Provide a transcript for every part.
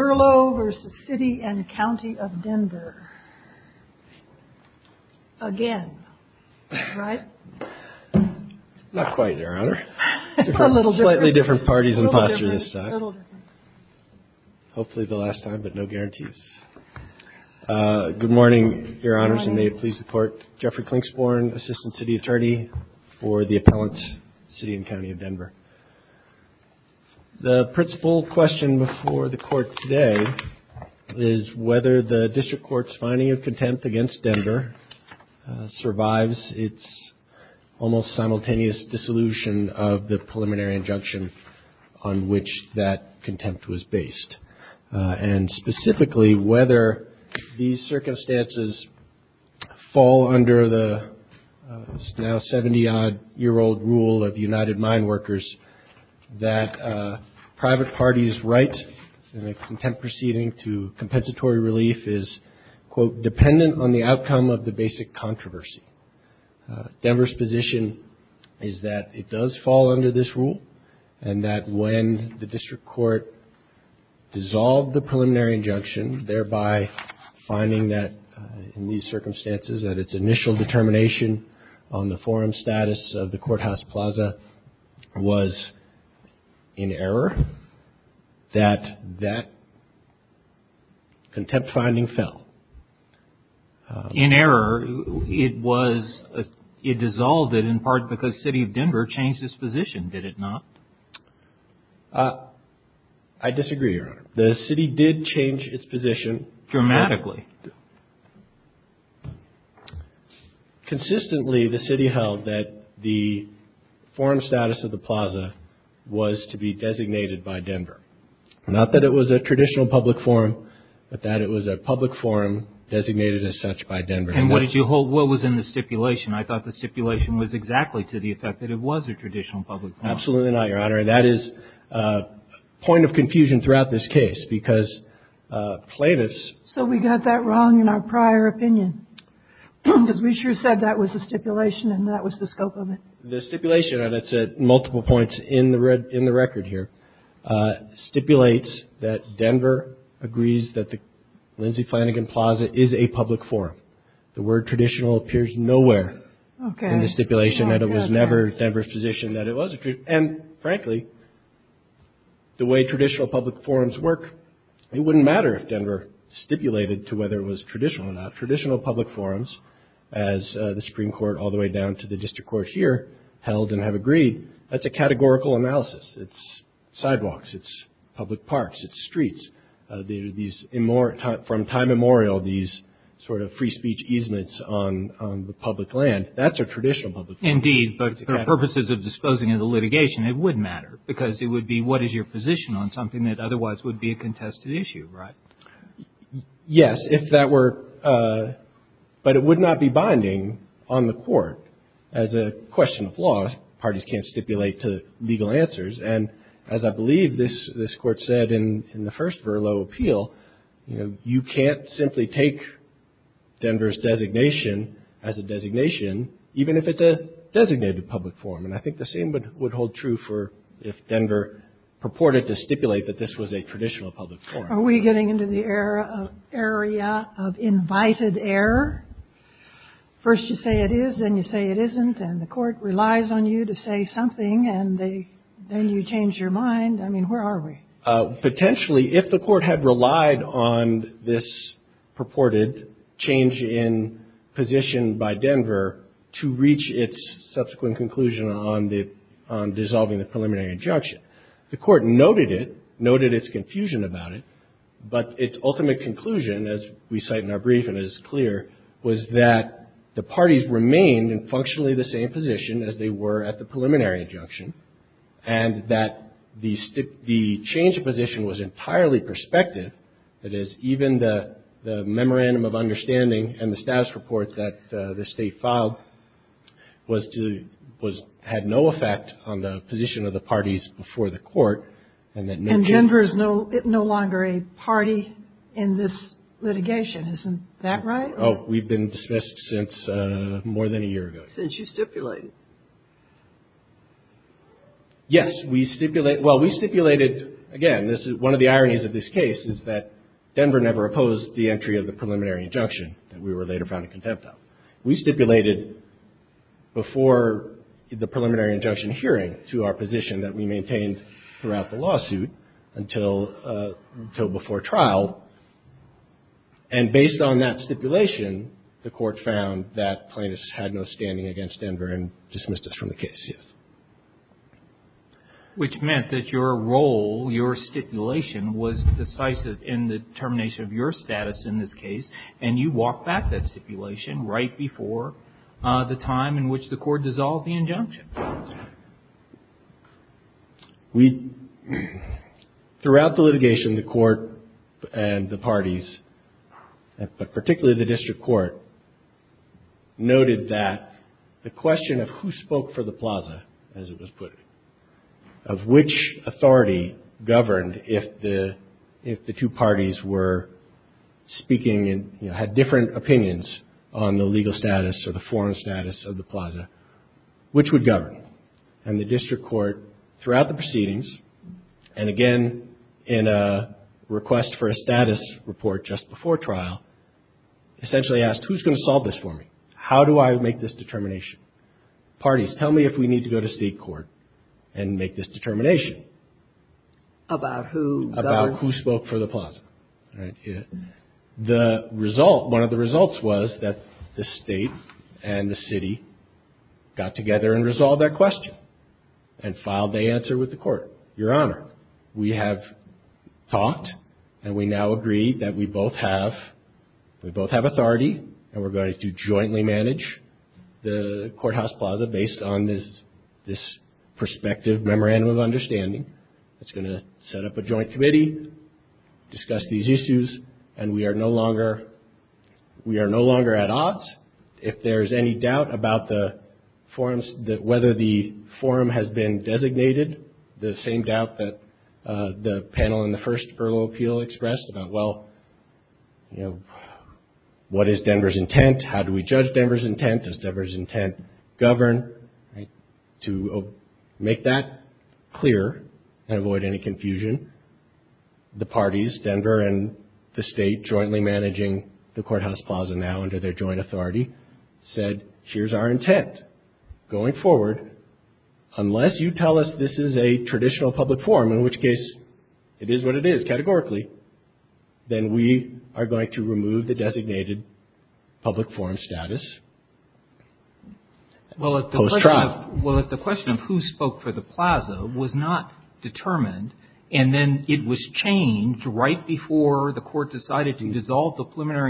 Verlo v. City and County of Denver. Again. Right? Not quite, Your Honor. Slightly different parties and postures this time. Hopefully the last time, but no guarantees. Good morning, Your Honors, and may it please the Court. Jeffrey Klingsporn, Assistant City Attorney for the Appellant, City and County of Denver. The principal question before the Court today is whether the District Court's finding of contempt against Denver survives its almost simultaneous dissolution of the preliminary injunction on which that contempt was based. And, specifically, whether these circumstances fall under the now 70-odd-year-old rule of United Mine Workers that private parties' right in a contempt proceeding to compensatory relief is, quote, dependent on the outcome of the basic controversy. Denver's position is that it does fall under this rule, and that when the District Court dissolved the preliminary injunction, thereby finding that, in these circumstances, that its initial determination on the forum status of the Courthouse Plaza was in error, that that contempt finding fell. In error, it was, it dissolved it in part because City of Denver changed its position, did it not? I disagree, Your Honor. The City did change its position. Dramatically. Consistently, the City held that the forum status of the Plaza was to be designated by as such by Denver. And what did you hold? What was in the stipulation? I thought the stipulation was exactly to the effect that it was a traditional public forum. Absolutely not, Your Honor. That is a point of confusion throughout this case, because plaintiffs So we got that wrong in our prior opinion, because we sure said that was a stipulation and that was the scope of it. The stipulation, and it's at multiple points in the record here, stipulates that Denver agrees that the Lindsay Flanagan Plaza is a public forum. The word traditional appears nowhere in the stipulation that it was never Denver's position that it was. And frankly, the way traditional public forums work, it wouldn't matter if Denver stipulated to whether it was traditional or not. Traditional public forums, as the Supreme Court all the way down to the District Court here held and have agreed, that's a sidewalks, it's public parks, it's streets. From time immemorial, these sort of free speech easements on the public land, that's a traditional public forum. Indeed, but for purposes of disposing of the litigation, it would matter, because it would be what is your position on something that otherwise would be a contested issue, right? Yes, if that were, but it would not be binding on the court as a question of law. Parties can't stipulate to legal answers. And as I believe this Court said in the first Verlo appeal, you know, you can't simply take Denver's designation as a designation, even if it's a designated public forum. And I think the same would hold true for if Denver purported to stipulate that this was a traditional public forum. Are we getting into the area of invited error? First you say it is, then you say it is, and then you change your mind. I mean, where are we? Potentially, if the Court had relied on this purported change in position by Denver to reach its subsequent conclusion on the – on dissolving the preliminary injunction, the Court noted it, noted its confusion about it, but its ultimate conclusion, as we cite in our brief and it is clear, was that the parties remained in functionally the same position as they were at the preliminary injunction, and that the change of position was entirely prospective. That is, even the memorandum of understanding and the status report that the State filed was to – had no effect on the position of the parties before the Court, and that no – And Denver is no longer a party in this litigation. Isn't that right? Oh, we've been dismissed since more than a year ago. Since you stipulated. Yes. We stipulate – well, we stipulated – again, this is – one of the ironies of this case is that Denver never opposed the entry of the preliminary injunction that we were later found in contempt of. We stipulated before the preliminary injunction hearing to our position that we maintained throughout the lawsuit until – until before trial, and based on that stipulation, the Court found that plaintiffs had no standing against Denver and dismissed us from the case, yes. Which meant that your role, your stipulation, was decisive in the termination of your status in this case, and you walked back that stipulation right before the time in which the Court dissolved the injunction. We – throughout the litigation, the Court and the parties, but particularly the District Court, noted that the question of who spoke for the plaza, as it was put, of which authority governed if the – if the two parties were speaking and, you know, had different opinions on the And the District Court, throughout the proceedings, and again, in a request for a status report just before trial, essentially asked, who's going to solve this for me? How do I make this determination? Parties, tell me if we need to go to state court and make this determination. About who governed? All right. The result – one of the results was that the State and the City got together and resolved that question and filed the answer with the Court. Your Honor, we have talked, and we now agree that we both have – we both have authority, and we're going to jointly manage the perspective memorandum of understanding. It's going to set up a joint committee, discuss these issues, and we are no longer – we are no longer at odds. If there's any doubt about the forum's – whether the forum has been designated, the same doubt that the panel in the first about, well, you know, what is Denver's intent? How do we judge Denver's intent? Does Denver's intent govern? To make that clear and avoid any confusion, the parties, Denver and the State, jointly managing the courthouse plaza now under their joint authority, said, here's our intent going forward. Unless you tell us this is a traditional public forum, in which case it is what it is, categorically, then we are going to remove the designated public forum status post-trial. Well, if the question of who spoke for the plaza was not determined, and then it was changed right before the Court decided to dissolve the matter.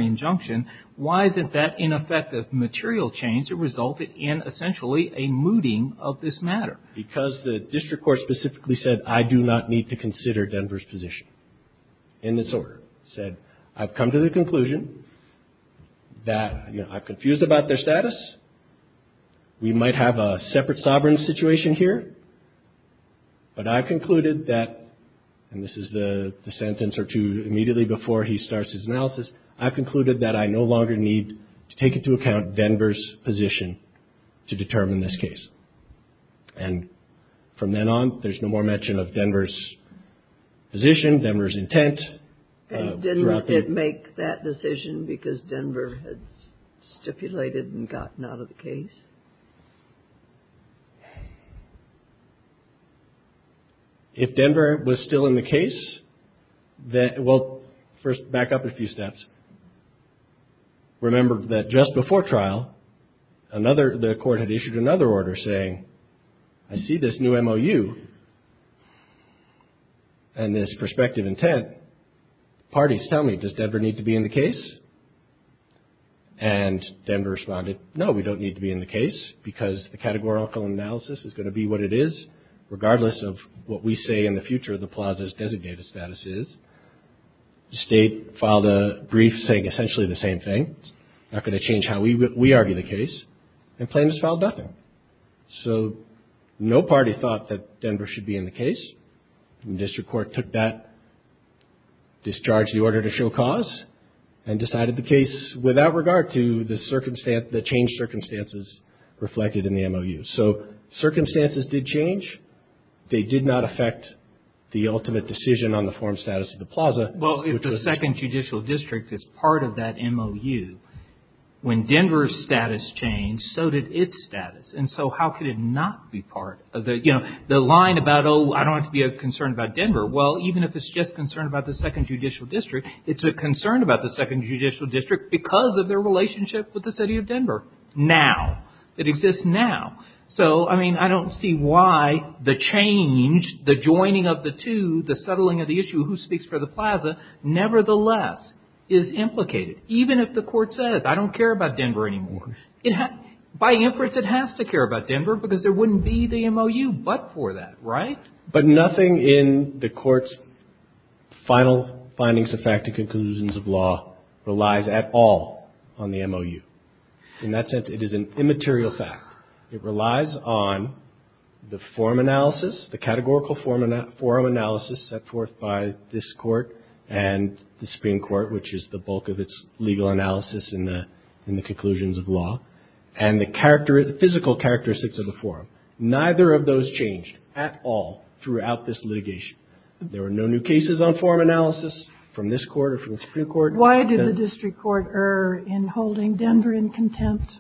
Because the district court specifically said, I do not need to consider Denver's position in this order. Said, I've come to the conclusion that, you know, I'm confused about their status. We might have a separate sovereign situation here, but I've concluded that – and this is the sentence or two sentences. And from then on, there's no more mention of Denver's position, Denver's intent. And didn't it make that decision because Denver had stipulated and gotten out of the case? If Denver was still in the case, that – well, first back up a few steps. Remember that just before trial, another – the Court had issued another order saying, I see this new MOU and this prospective intent. Parties, tell me, does Denver need to be in the case? And Denver responded, no, we don't need to be in the case because the categorical analysis is going to be what it is, regardless of what we say in the future the plaza's designated status is. The state filed a brief saying essentially the same thing. It's not going to change how we argue the case. And plaintiffs filed nothing. So, no party thought that Denver should be in the case. And the district court took that, discharged the order to show cause, and decided the case without regard to the change circumstances reflected in the MOU. So, circumstances did change. They did not affect the ultimate decision on the forum status of the plaza. Well, if the Second Judicial District is part of that MOU, when Denver's status changed, so did its status. And so, how could it not be part of the – you know, the line about, oh, I don't have to be concerned about Denver. Well, even if it's just concerned about the Second Judicial District, it's a concern about the Second Judicial District because of their relationship with the city of Denver now. It exists now. So, I mean, I don't see why the change, the joining of the two, the settling of the issue, who speaks for the plaza, nevertheless, is implicated. Even if the court says, I don't care about Denver anymore. By inference, it has to care about Denver because there wouldn't be the MOU but for that, right? But nothing in the court's final findings of fact and conclusions of law relies at all on the MOU. In that sense, it is an immaterial fact. It relies on the forum analysis, the categorical forum analysis set forth by this court and the Supreme Court, which is the bulk of its legal analysis in the conclusions of law, and the physical characteristics of the forum. Neither of those changed at all throughout this litigation. There were no new cases on forum analysis from this court or from the Supreme Court. Why did the district court err in holding Denver in contempt?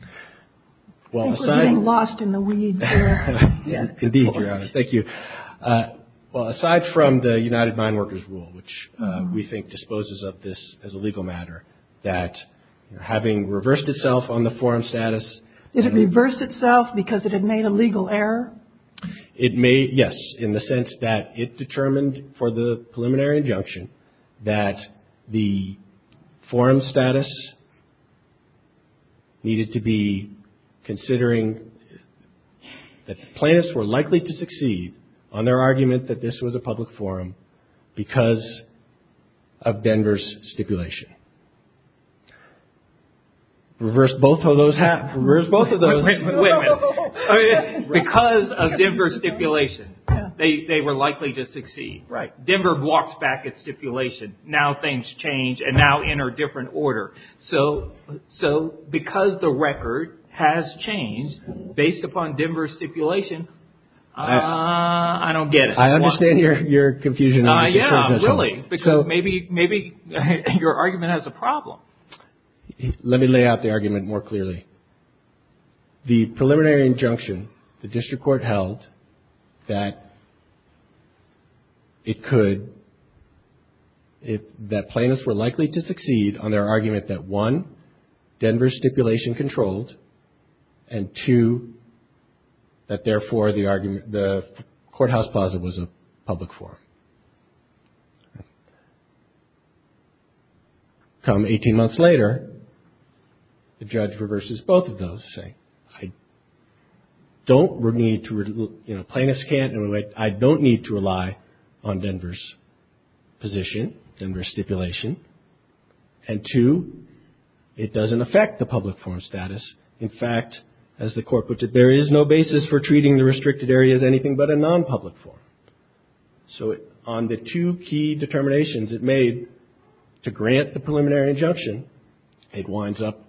I think we're getting lost in the weeds here. Indeed, Your Honor. Thank you. Aside from the United Mine Workers' Rule, which we think disposes of this as a legal matter, that having reversed itself on the forum status. Did it reverse itself because it had made a legal error? It may, yes, in the sense that it determined for the preliminary injunction that the forum status needed to be considering that the plaintiffs were likely to succeed on their argument that this was a public forum because of Denver's stipulation. Reverse both of those? Wait a minute. Because of Denver's stipulation, they were likely to succeed. Denver walks back its stipulation. Now things change and now enter a different order. So because the record has changed based upon Denver's stipulation, I don't get it. I understand your confusion. Really? Because maybe your argument has a problem. Let me lay out the argument more clearly. The preliminary injunction the district court held that it could, that plaintiffs were likely to succeed on their argument that one, this was a public forum. Come 18 months later, the judge reverses both of those, saying I don't need to, you know, plaintiffs can't, I don't need to rely on Denver's position, Denver's stipulation, and two, it doesn't affect the public forum status. In fact, as the court put it, there is no basis for treating the restricted area as anything but a non-public forum. So on the two key determinations it made to grant the preliminary injunction, it winds up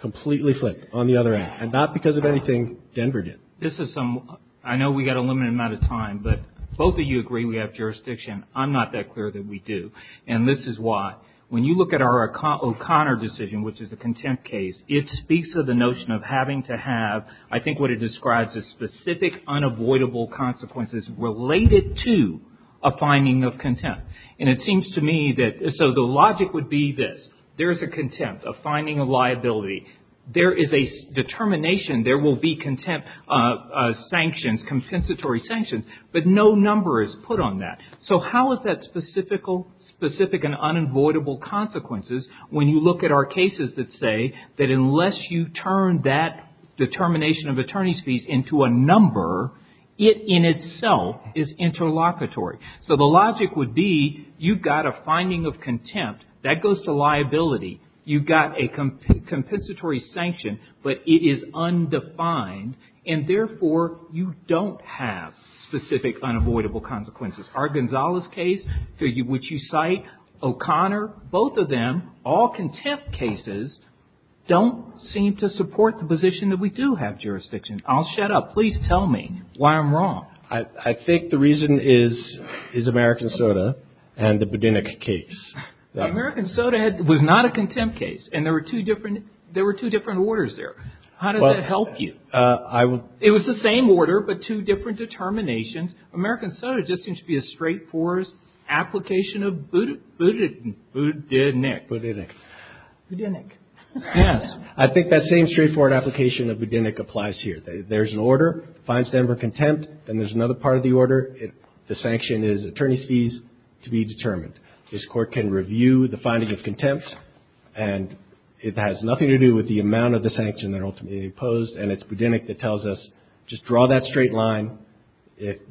completely flipped on the other end. And not because of anything Denver did. This is some, I know we got a limited amount of time, but both of you agree we have jurisdiction. I'm not that clear that we do. And this is why. When you look at our O'Connor decision, which is a contempt case, it speaks of the notion of having to have, I think what it describes as specific, unavoidable consequences related to a finding of contempt. And it seems to me that, so the logic would be this. There is a contempt, a finding of liability. There is a determination there will be contempt sanctions, compensatory sanctions, but no number is put on that. So how is that specific and unavoidable consequences when you look at our cases that say that unless you turn that determination of attorney's fees into a number, it in itself is interlocutory. So the logic would be you've got a finding of contempt, that goes to liability. You've got a compensatory sanction, but it is undefined, and therefore you don't have specific unavoidable consequences. Our Gonzalez case, which you cite, O'Connor, both of them, all contempt cases, don't seem to support the position that we do have jurisdiction. I'll shut up. Please tell me why I'm wrong. I think the reason is American Soda and the Budenik case. American Soda was not a contempt case, and there were two different orders there. How does that help you? It was the same order, but two different determinations. American Soda just seems to be a straightforward application of Budenik. Budenik. Budenik. Yes. I think that same straightforward application of Budenik applies here. There's an order, finds Denver contempt, and there's another part of the order. The sanction is attorney's fees to be determined. This Court can review the finding of contempt, and it has nothing to do with the amount of the sanction that ultimately imposed, and it's Budenik that tells us, just draw that straight line.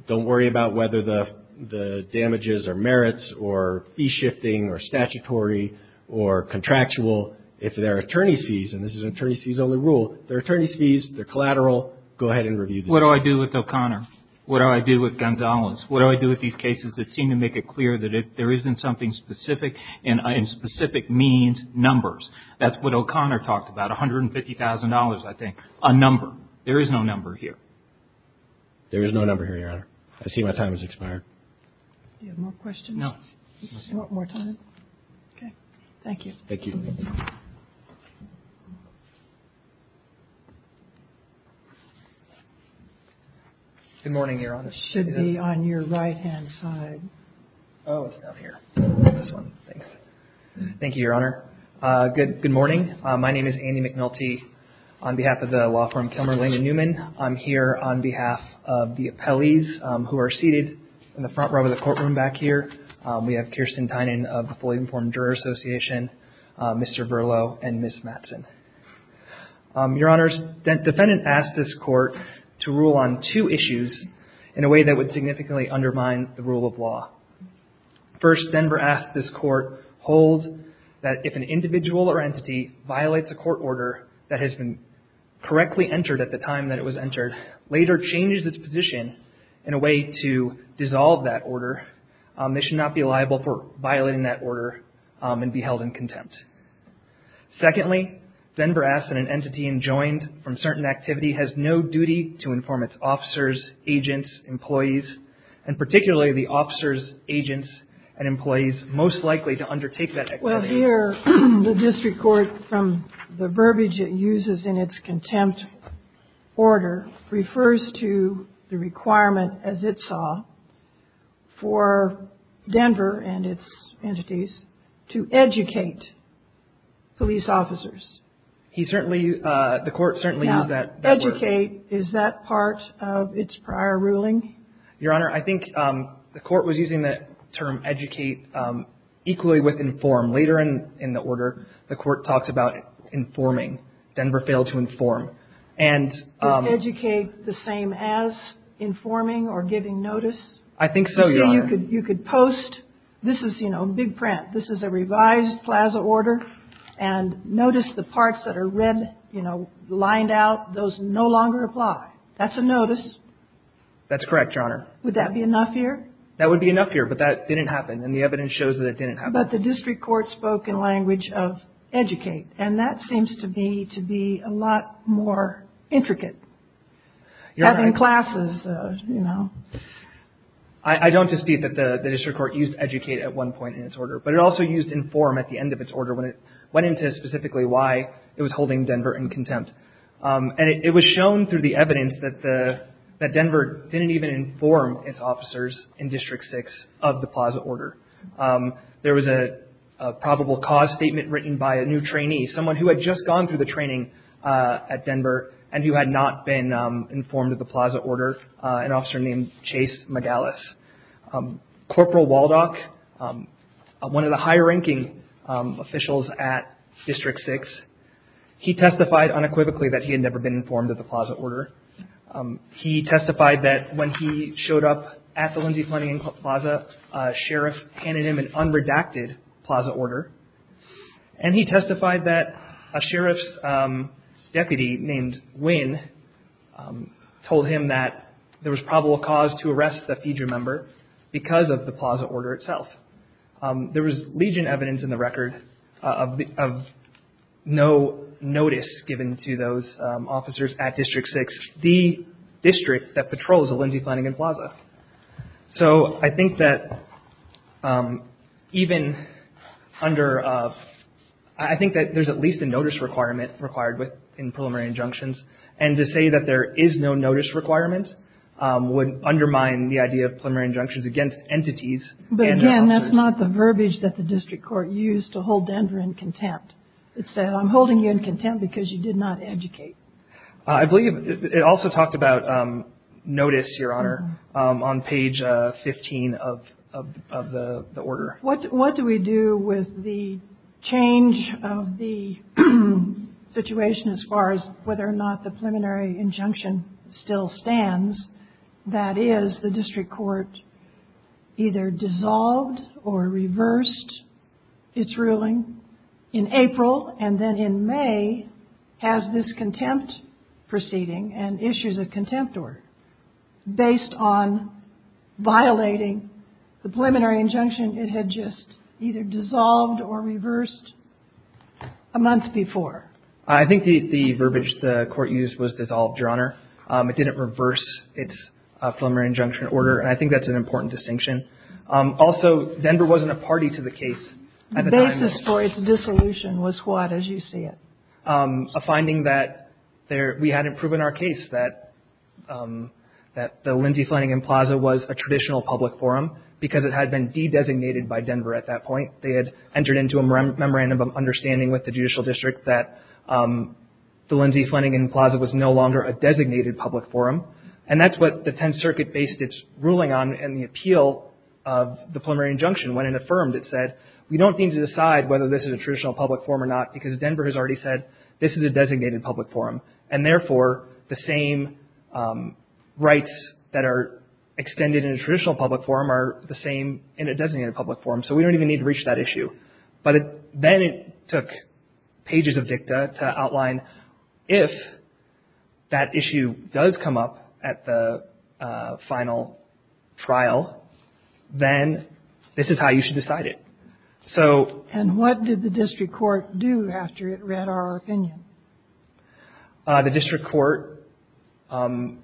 Don't worry about whether the damages are merits or fee shifting or statutory or contractual. If they're attorney's fees, and this is an attorney's fees only rule, they're attorney's fees, they're collateral, go ahead and review this. What do I do with O'Connor? What do I do with Gonzalez? What do I do with these cases that seem to make it clear that there isn't something specific, and specific means numbers? That's what O'Connor talked about, $150,000, I think, a number. There is no number here. There is no number here, Your Honor. I see my time has expired. Do you have more questions? No. Do you want more time? Okay. Thank you. Thank you. Good morning, Your Honor. It should be on your right-hand side. Oh, it's down here. This one. Thanks. Thank you, Your Honor. Good morning. My name is Andy McNulty on behalf of the law firm Kilmer, Lane & Newman. I'm here on behalf of the appellees who are seated in the front row of the courtroom back here. We have Kirsten Tynan of the Fully Informed Juror Association, Mr. Verlo, and Ms. Mattson. Your Honor, defendant asked this court to rule on two issues in a way that would significantly undermine the rule of law. First, Denver asked this court hold that if an individual or entity violates a court order that has been correctly entered at the time that it was entered, later changes its position in a way to dissolve that order, they should not be liable for violating that order and be held in contempt. Secondly, Denver asked that an entity enjoined from certain activity has no duty to inform its officers, agents, employees, and particularly the officers, agents, and employees most likely to undertake that activity. Well, here the district court, from the verbiage it uses in its contempt order, refers to the requirement, as it saw, for Denver and its entities to educate police officers. He certainly, the court certainly used that word. Educate, is that part of its prior ruling? Your Honor, I think the court was using the term educate equally with inform. Later in the order, the court talks about informing. Denver failed to inform. Does educate the same as informing or giving notice? I think so, Your Honor. You could post, this is, you know, big print. This is a revised Plaza order, and notice the parts that are red, you know, lined out. Those no longer apply. That's a notice. That's correct, Your Honor. Would that be enough here? That would be enough here, but that didn't happen, and the evidence shows that it didn't happen. But the district court spoke in language of educate, and that seems to be, to be a lot more intricate. You're right. Having classes, you know. I don't dispute that the district court used educate at one point in its order, but it also used inform at the end of its order when it went into specifically why it was holding Denver in contempt. And it was shown through the evidence that Denver didn't even inform its officers in District 6 of the Plaza order. There was a probable cause statement written by a new trainee, someone who had just gone through the training at Denver and who had not been informed of the Plaza order, an officer named Chase Magalis. Corporal Waldock, one of the higher ranking officials at District 6, he testified unequivocally that he had never been informed of the Plaza order. He testified that when he showed up at the Lindsay Planning Plaza, a sheriff handed him an unredacted Plaza order, and he testified that a sheriff's deputy named Wynn told him that there was probable cause to arrest the FEDRA member because of the Plaza order itself. There was legion evidence in the record of no notice given to those officers at District 6, the district that patrols the Lindsay Planning Plaza. So I think that even under, I think that there's at least a notice requirement required in preliminary injunctions, and to say that there is no notice requirement would undermine the idea of preliminary injunctions against entities and officers. But again, that's not the verbiage that the district court used to hold Denver in contempt. It said, I'm holding you in contempt because you did not educate. I believe it also talked about notice, Your Honor, on page 15 of the order. What do we do with the change of the situation as far as whether or not the preliminary injunction still stands? That is, the district court either dissolved or reversed its ruling in April, and then in May has this contempt proceeding and issues a contempt order based on violating the preliminary injunction it had just either dissolved or reversed a month before. I think the verbiage the court used was dissolved, Your Honor. It didn't reverse its preliminary injunction order, and I think that's an important distinction. Also, Denver wasn't a party to the case at the time. The basis for its dissolution was what, as you see it? A finding that we hadn't proven our case, that the Lindsay Flanagan Plaza was a traditional public forum because it had been de-designated by Denver at that point. They had entered into a memorandum of understanding with the judicial district that the Lindsay Flanagan Plaza was no longer a designated public forum, and that's what the Tenth Circuit based its ruling on in the appeal of the preliminary injunction. When it affirmed, it said, we don't need to decide whether this is a traditional public forum or not because Denver has already said this is a designated public forum, and therefore the same rights that are extended in a traditional public forum are the same in a designated public forum, so we don't even need to reach that issue. But then it took pages of dicta to outline if that issue does come up at the final trial, then this is how you should decide it. So — And what did the district court do after it read our opinion? The district court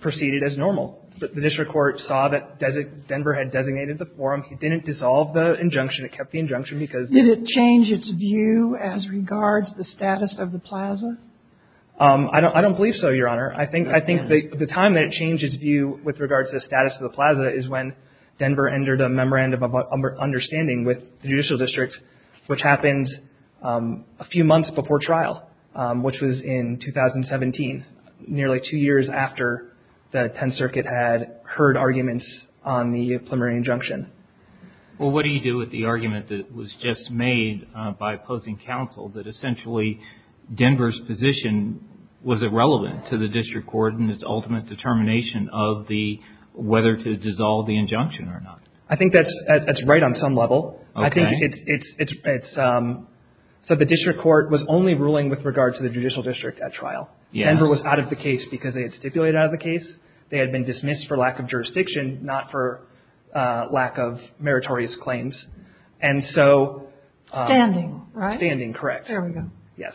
proceeded as normal. The district court saw that Denver had designated the forum. It didn't dissolve the injunction. It kept the injunction because — Did it change its view as regards the status of the plaza? I don't believe so, Your Honor. I think the time that it changed its view with regards to the status of the plaza is when Denver entered a memorandum of understanding with the judicial district, which happened a few months before trial, which was in 2017, nearly two years after the Tenth Circuit had heard arguments on the preliminary injunction. Well, what do you do with the argument that was just made by opposing counsel that essentially Denver's position was irrelevant to the district court in its ultimate determination of whether to dissolve the injunction or not? I think that's right on some level. Okay. I think it's — so the district court was only ruling with regards to the judicial district at trial. Yes. Denver was out of the case because they had stipulated out of the case. They had been dismissed for lack of jurisdiction, not for lack of meritorious claims. And so — Standing, right? Standing, correct. There we go. Yes.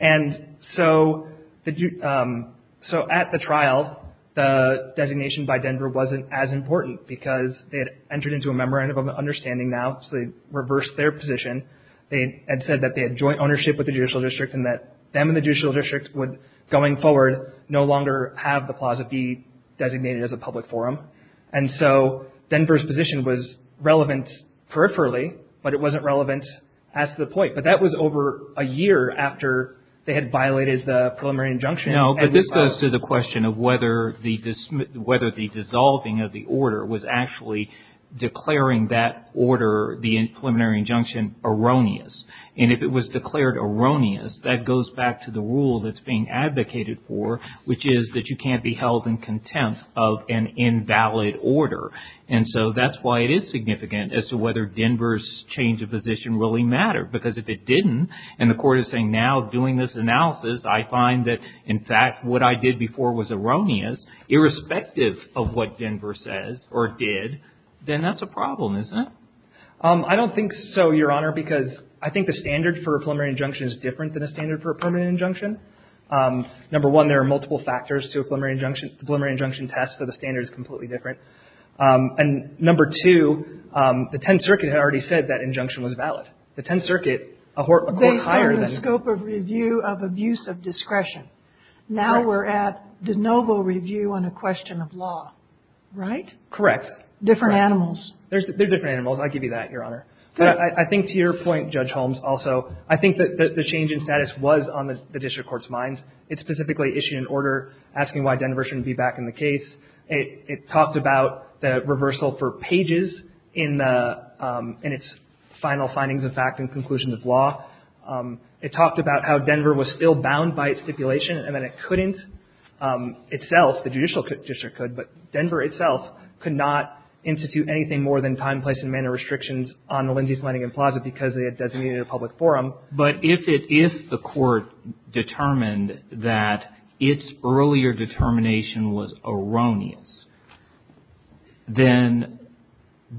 And so at the trial, the designation by Denver wasn't as important because they had entered into a memorandum of understanding now, so they reversed their position. They had said that they had joint ownership with the judicial district and that them and the judicial district would, going forward, no longer have the plaza be designated as a public forum. And so Denver's position was relevant peripherally, but it wasn't relevant as to the point. But that was over a year after they had violated the preliminary injunction. No, but this goes to the question of whether the dissolving of the order was actually declaring that order, the preliminary injunction, erroneous. And if it was declared erroneous, that goes back to the rule that's being advocated for, which is that you can't be held in contempt of an invalid order. And so that's why it is significant as to whether Denver's change of position really mattered. Because if it didn't, and the Court is saying now, doing this analysis, I find that, in fact, what I did before was erroneous, irrespective of what Denver says or did, then that's a problem, isn't it? I don't think so, Your Honor, because I think the standard for a preliminary injunction is different than a standard for a permanent injunction. Number one, there are multiple factors to a preliminary injunction test, so the standard is completely different. And number two, the Tenth Circuit had already said that injunction was valid. The Tenth Circuit, a court higher than... Based on the scope of review of abuse of discretion. Correct. Now we're at de novo review on a question of law, right? Correct. Different animals. They're different animals. I'll give you that, Your Honor. But I think to your point, Judge Holmes, also, I think that the change in status was on the district court's minds. It specifically issued an order asking why Denver shouldn't be back in the case. It talked about the reversal for pages in its final findings of fact and conclusions of law. It talked about how Denver was still bound by its stipulation and that it couldn't itself, the judicial district could, but Denver itself could not institute anything more than time, place, and manner restrictions on the Lindsay, Flanagan Plaza because they had designated a public forum. But if it, if the court determined that its earlier determination was erroneous, then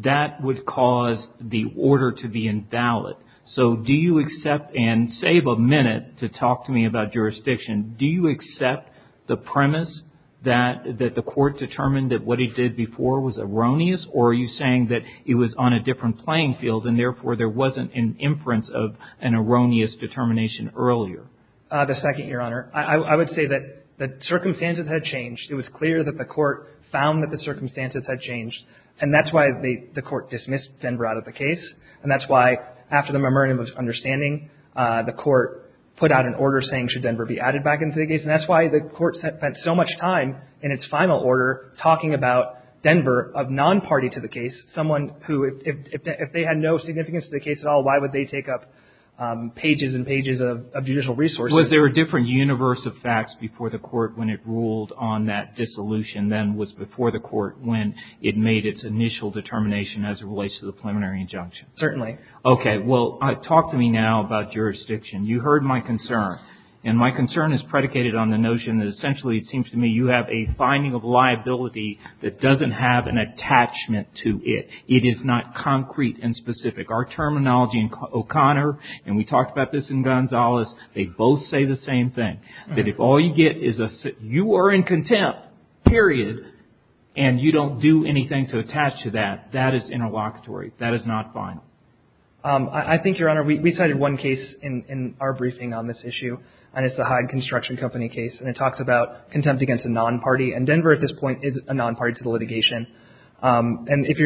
that would cause the order to be invalid. So do you accept, and save a minute to talk to me about jurisdiction, do you accept the premise that the court determined that what it did before was erroneous, or are you saying that it was on a different playing field, and therefore there wasn't an inference of an erroneous determination earlier? The second, Your Honor. I would say that the circumstances had changed. It was clear that the court found that the circumstances had changed, and that's why the court dismissed Denver out of the case, and that's why after the memorandum of understanding, the court put out an order saying should Denver be added back into the case, and that's why the court spent so much time in its final order talking about Denver of non-party to the case, someone who, if they had no significance to the case at all, why would they take up pages and pages of judicial resources? Was there a different universe of facts before the court when it ruled on that dissolution than was before the court when it made its initial determination as it relates to the preliminary injunction? Certainly. Okay. Well, talk to me now about jurisdiction. You heard my concern, and my concern is predicated on the notion that essentially it seems to me you have a finding of liability that doesn't have an attachment to it. It is not concrete and specific. Our terminology in O'Connor, and we talked about this in Gonzales, they both say the same thing, that if all you get is you are in contempt, period, and you don't do anything to attach to that, that is interlocutory, that is not fine. I think, Your Honor, we cited one case in our briefing on this issue, and it's the Hyde Construction Company case, and it talks about contempt against a non-party, and Denver at this point is a non-party to the litigation. And if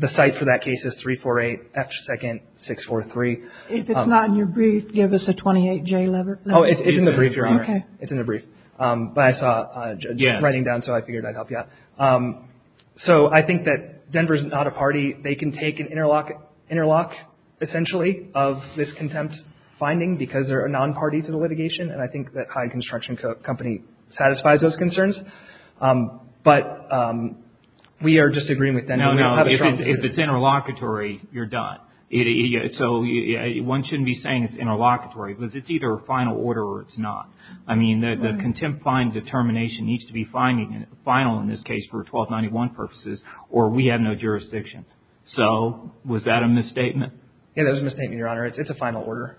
the site for that case is 348 F2nd 643. If it's not in your brief, give us a 28J letter. Oh, it's in the brief, Your Honor. Okay. It's in the brief, but I saw a judge writing down, so I figured I'd help you out. So I think that Denver is not a party. They can take an interlock, essentially, of this contempt finding because they're a non-party to the litigation, and I think that Hyde Construction Company satisfies those concerns. But we are disagreeing with Denver. No, no. If it's interlocutory, you're done. So one shouldn't be saying it's interlocutory because it's either a final order or it's not. I mean, the contempt finding determination needs to be final in this case for 1291 purposes, or we have no jurisdiction. So was that a misstatement? Yeah, that was a misstatement, Your Honor. It's a final order.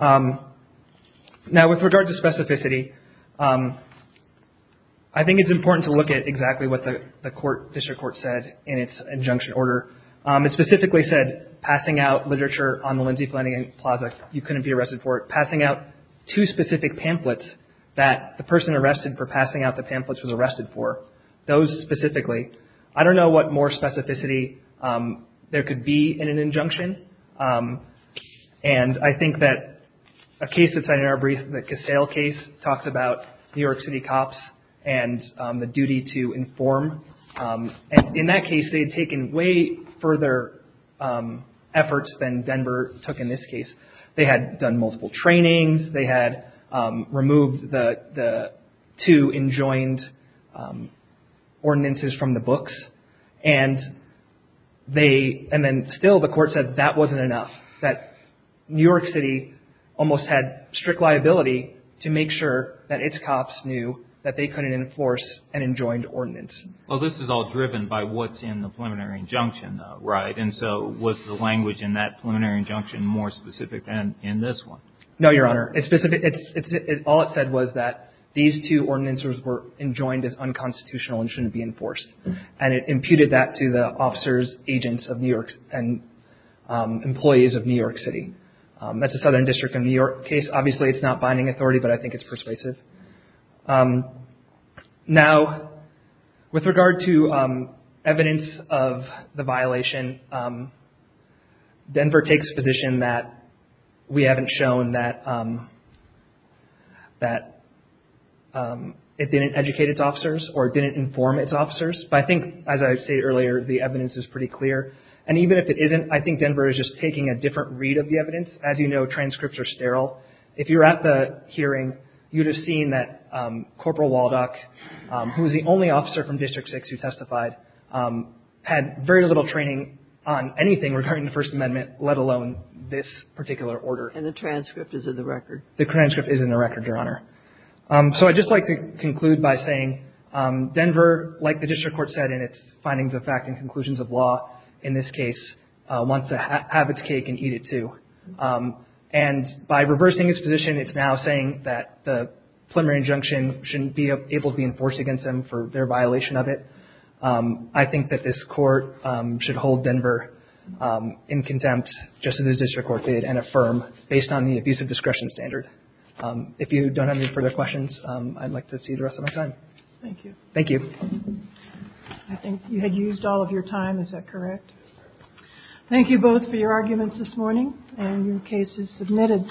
Now, with regard to specificity, I think it's important to look at exactly what the court, district court, said in its injunction order. It specifically said, passing out literature on the Lindsay Planning Plaza, you couldn't be arrested for it. The two specific pamphlets that the person arrested for passing out the pamphlets was arrested for, those specifically, I don't know what more specificity there could be in an injunction. And I think that a case that's in our brief, the Casale case, talks about New York City cops and the duty to inform. And in that case, they had taken way further efforts than Denver took in this case. They had done multiple trainings. They had removed the two enjoined ordinances from the books. And they, and then still the court said that wasn't enough, that New York City almost had strict liability to make sure that its cops knew that they couldn't enforce an enjoined ordinance. Well, this is all driven by what's in the preliminary injunction, right? And so was the language in that preliminary injunction more specific than in this one? No, Your Honor. It's specific. All it said was that these two ordinances were enjoined as unconstitutional and shouldn't be enforced. And it imputed that to the officers, agents of New York and employees of New York City. That's the Southern District of New York case. Obviously, it's not binding authority, but I think it's persuasive. Now, with regard to evidence of the violation, Denver takes a position that we haven't shown that it didn't educate its officers or didn't inform its officers. But I think, as I said earlier, the evidence is pretty clear. And even if it isn't, I think Denver is just taking a different read of the evidence. As you know, transcripts are sterile. If you were at the hearing, you would have seen that Corporal Waldock, who was the only officer from District 6 who testified, had very little training on anything regarding the First Amendment, let alone this particular order. And the transcript is in the record. The transcript is in the record, Your Honor. So I'd just like to conclude by saying Denver, like the district court said in its findings of fact and conclusions of law, in this case, wants to have its cake and eat it, too. And by reversing its position, it's now saying that the preliminary injunction shouldn't be able to be enforced against them for their violation of it. I think that this court should hold Denver in contempt, just as the district court did, and affirm based on the abusive discretion standard. If you don't have any further questions, I'd like to see the rest of my time. Thank you. Thank you. I think you had used all of your time. Is that correct? Thank you both for your arguments this morning and your cases submitted.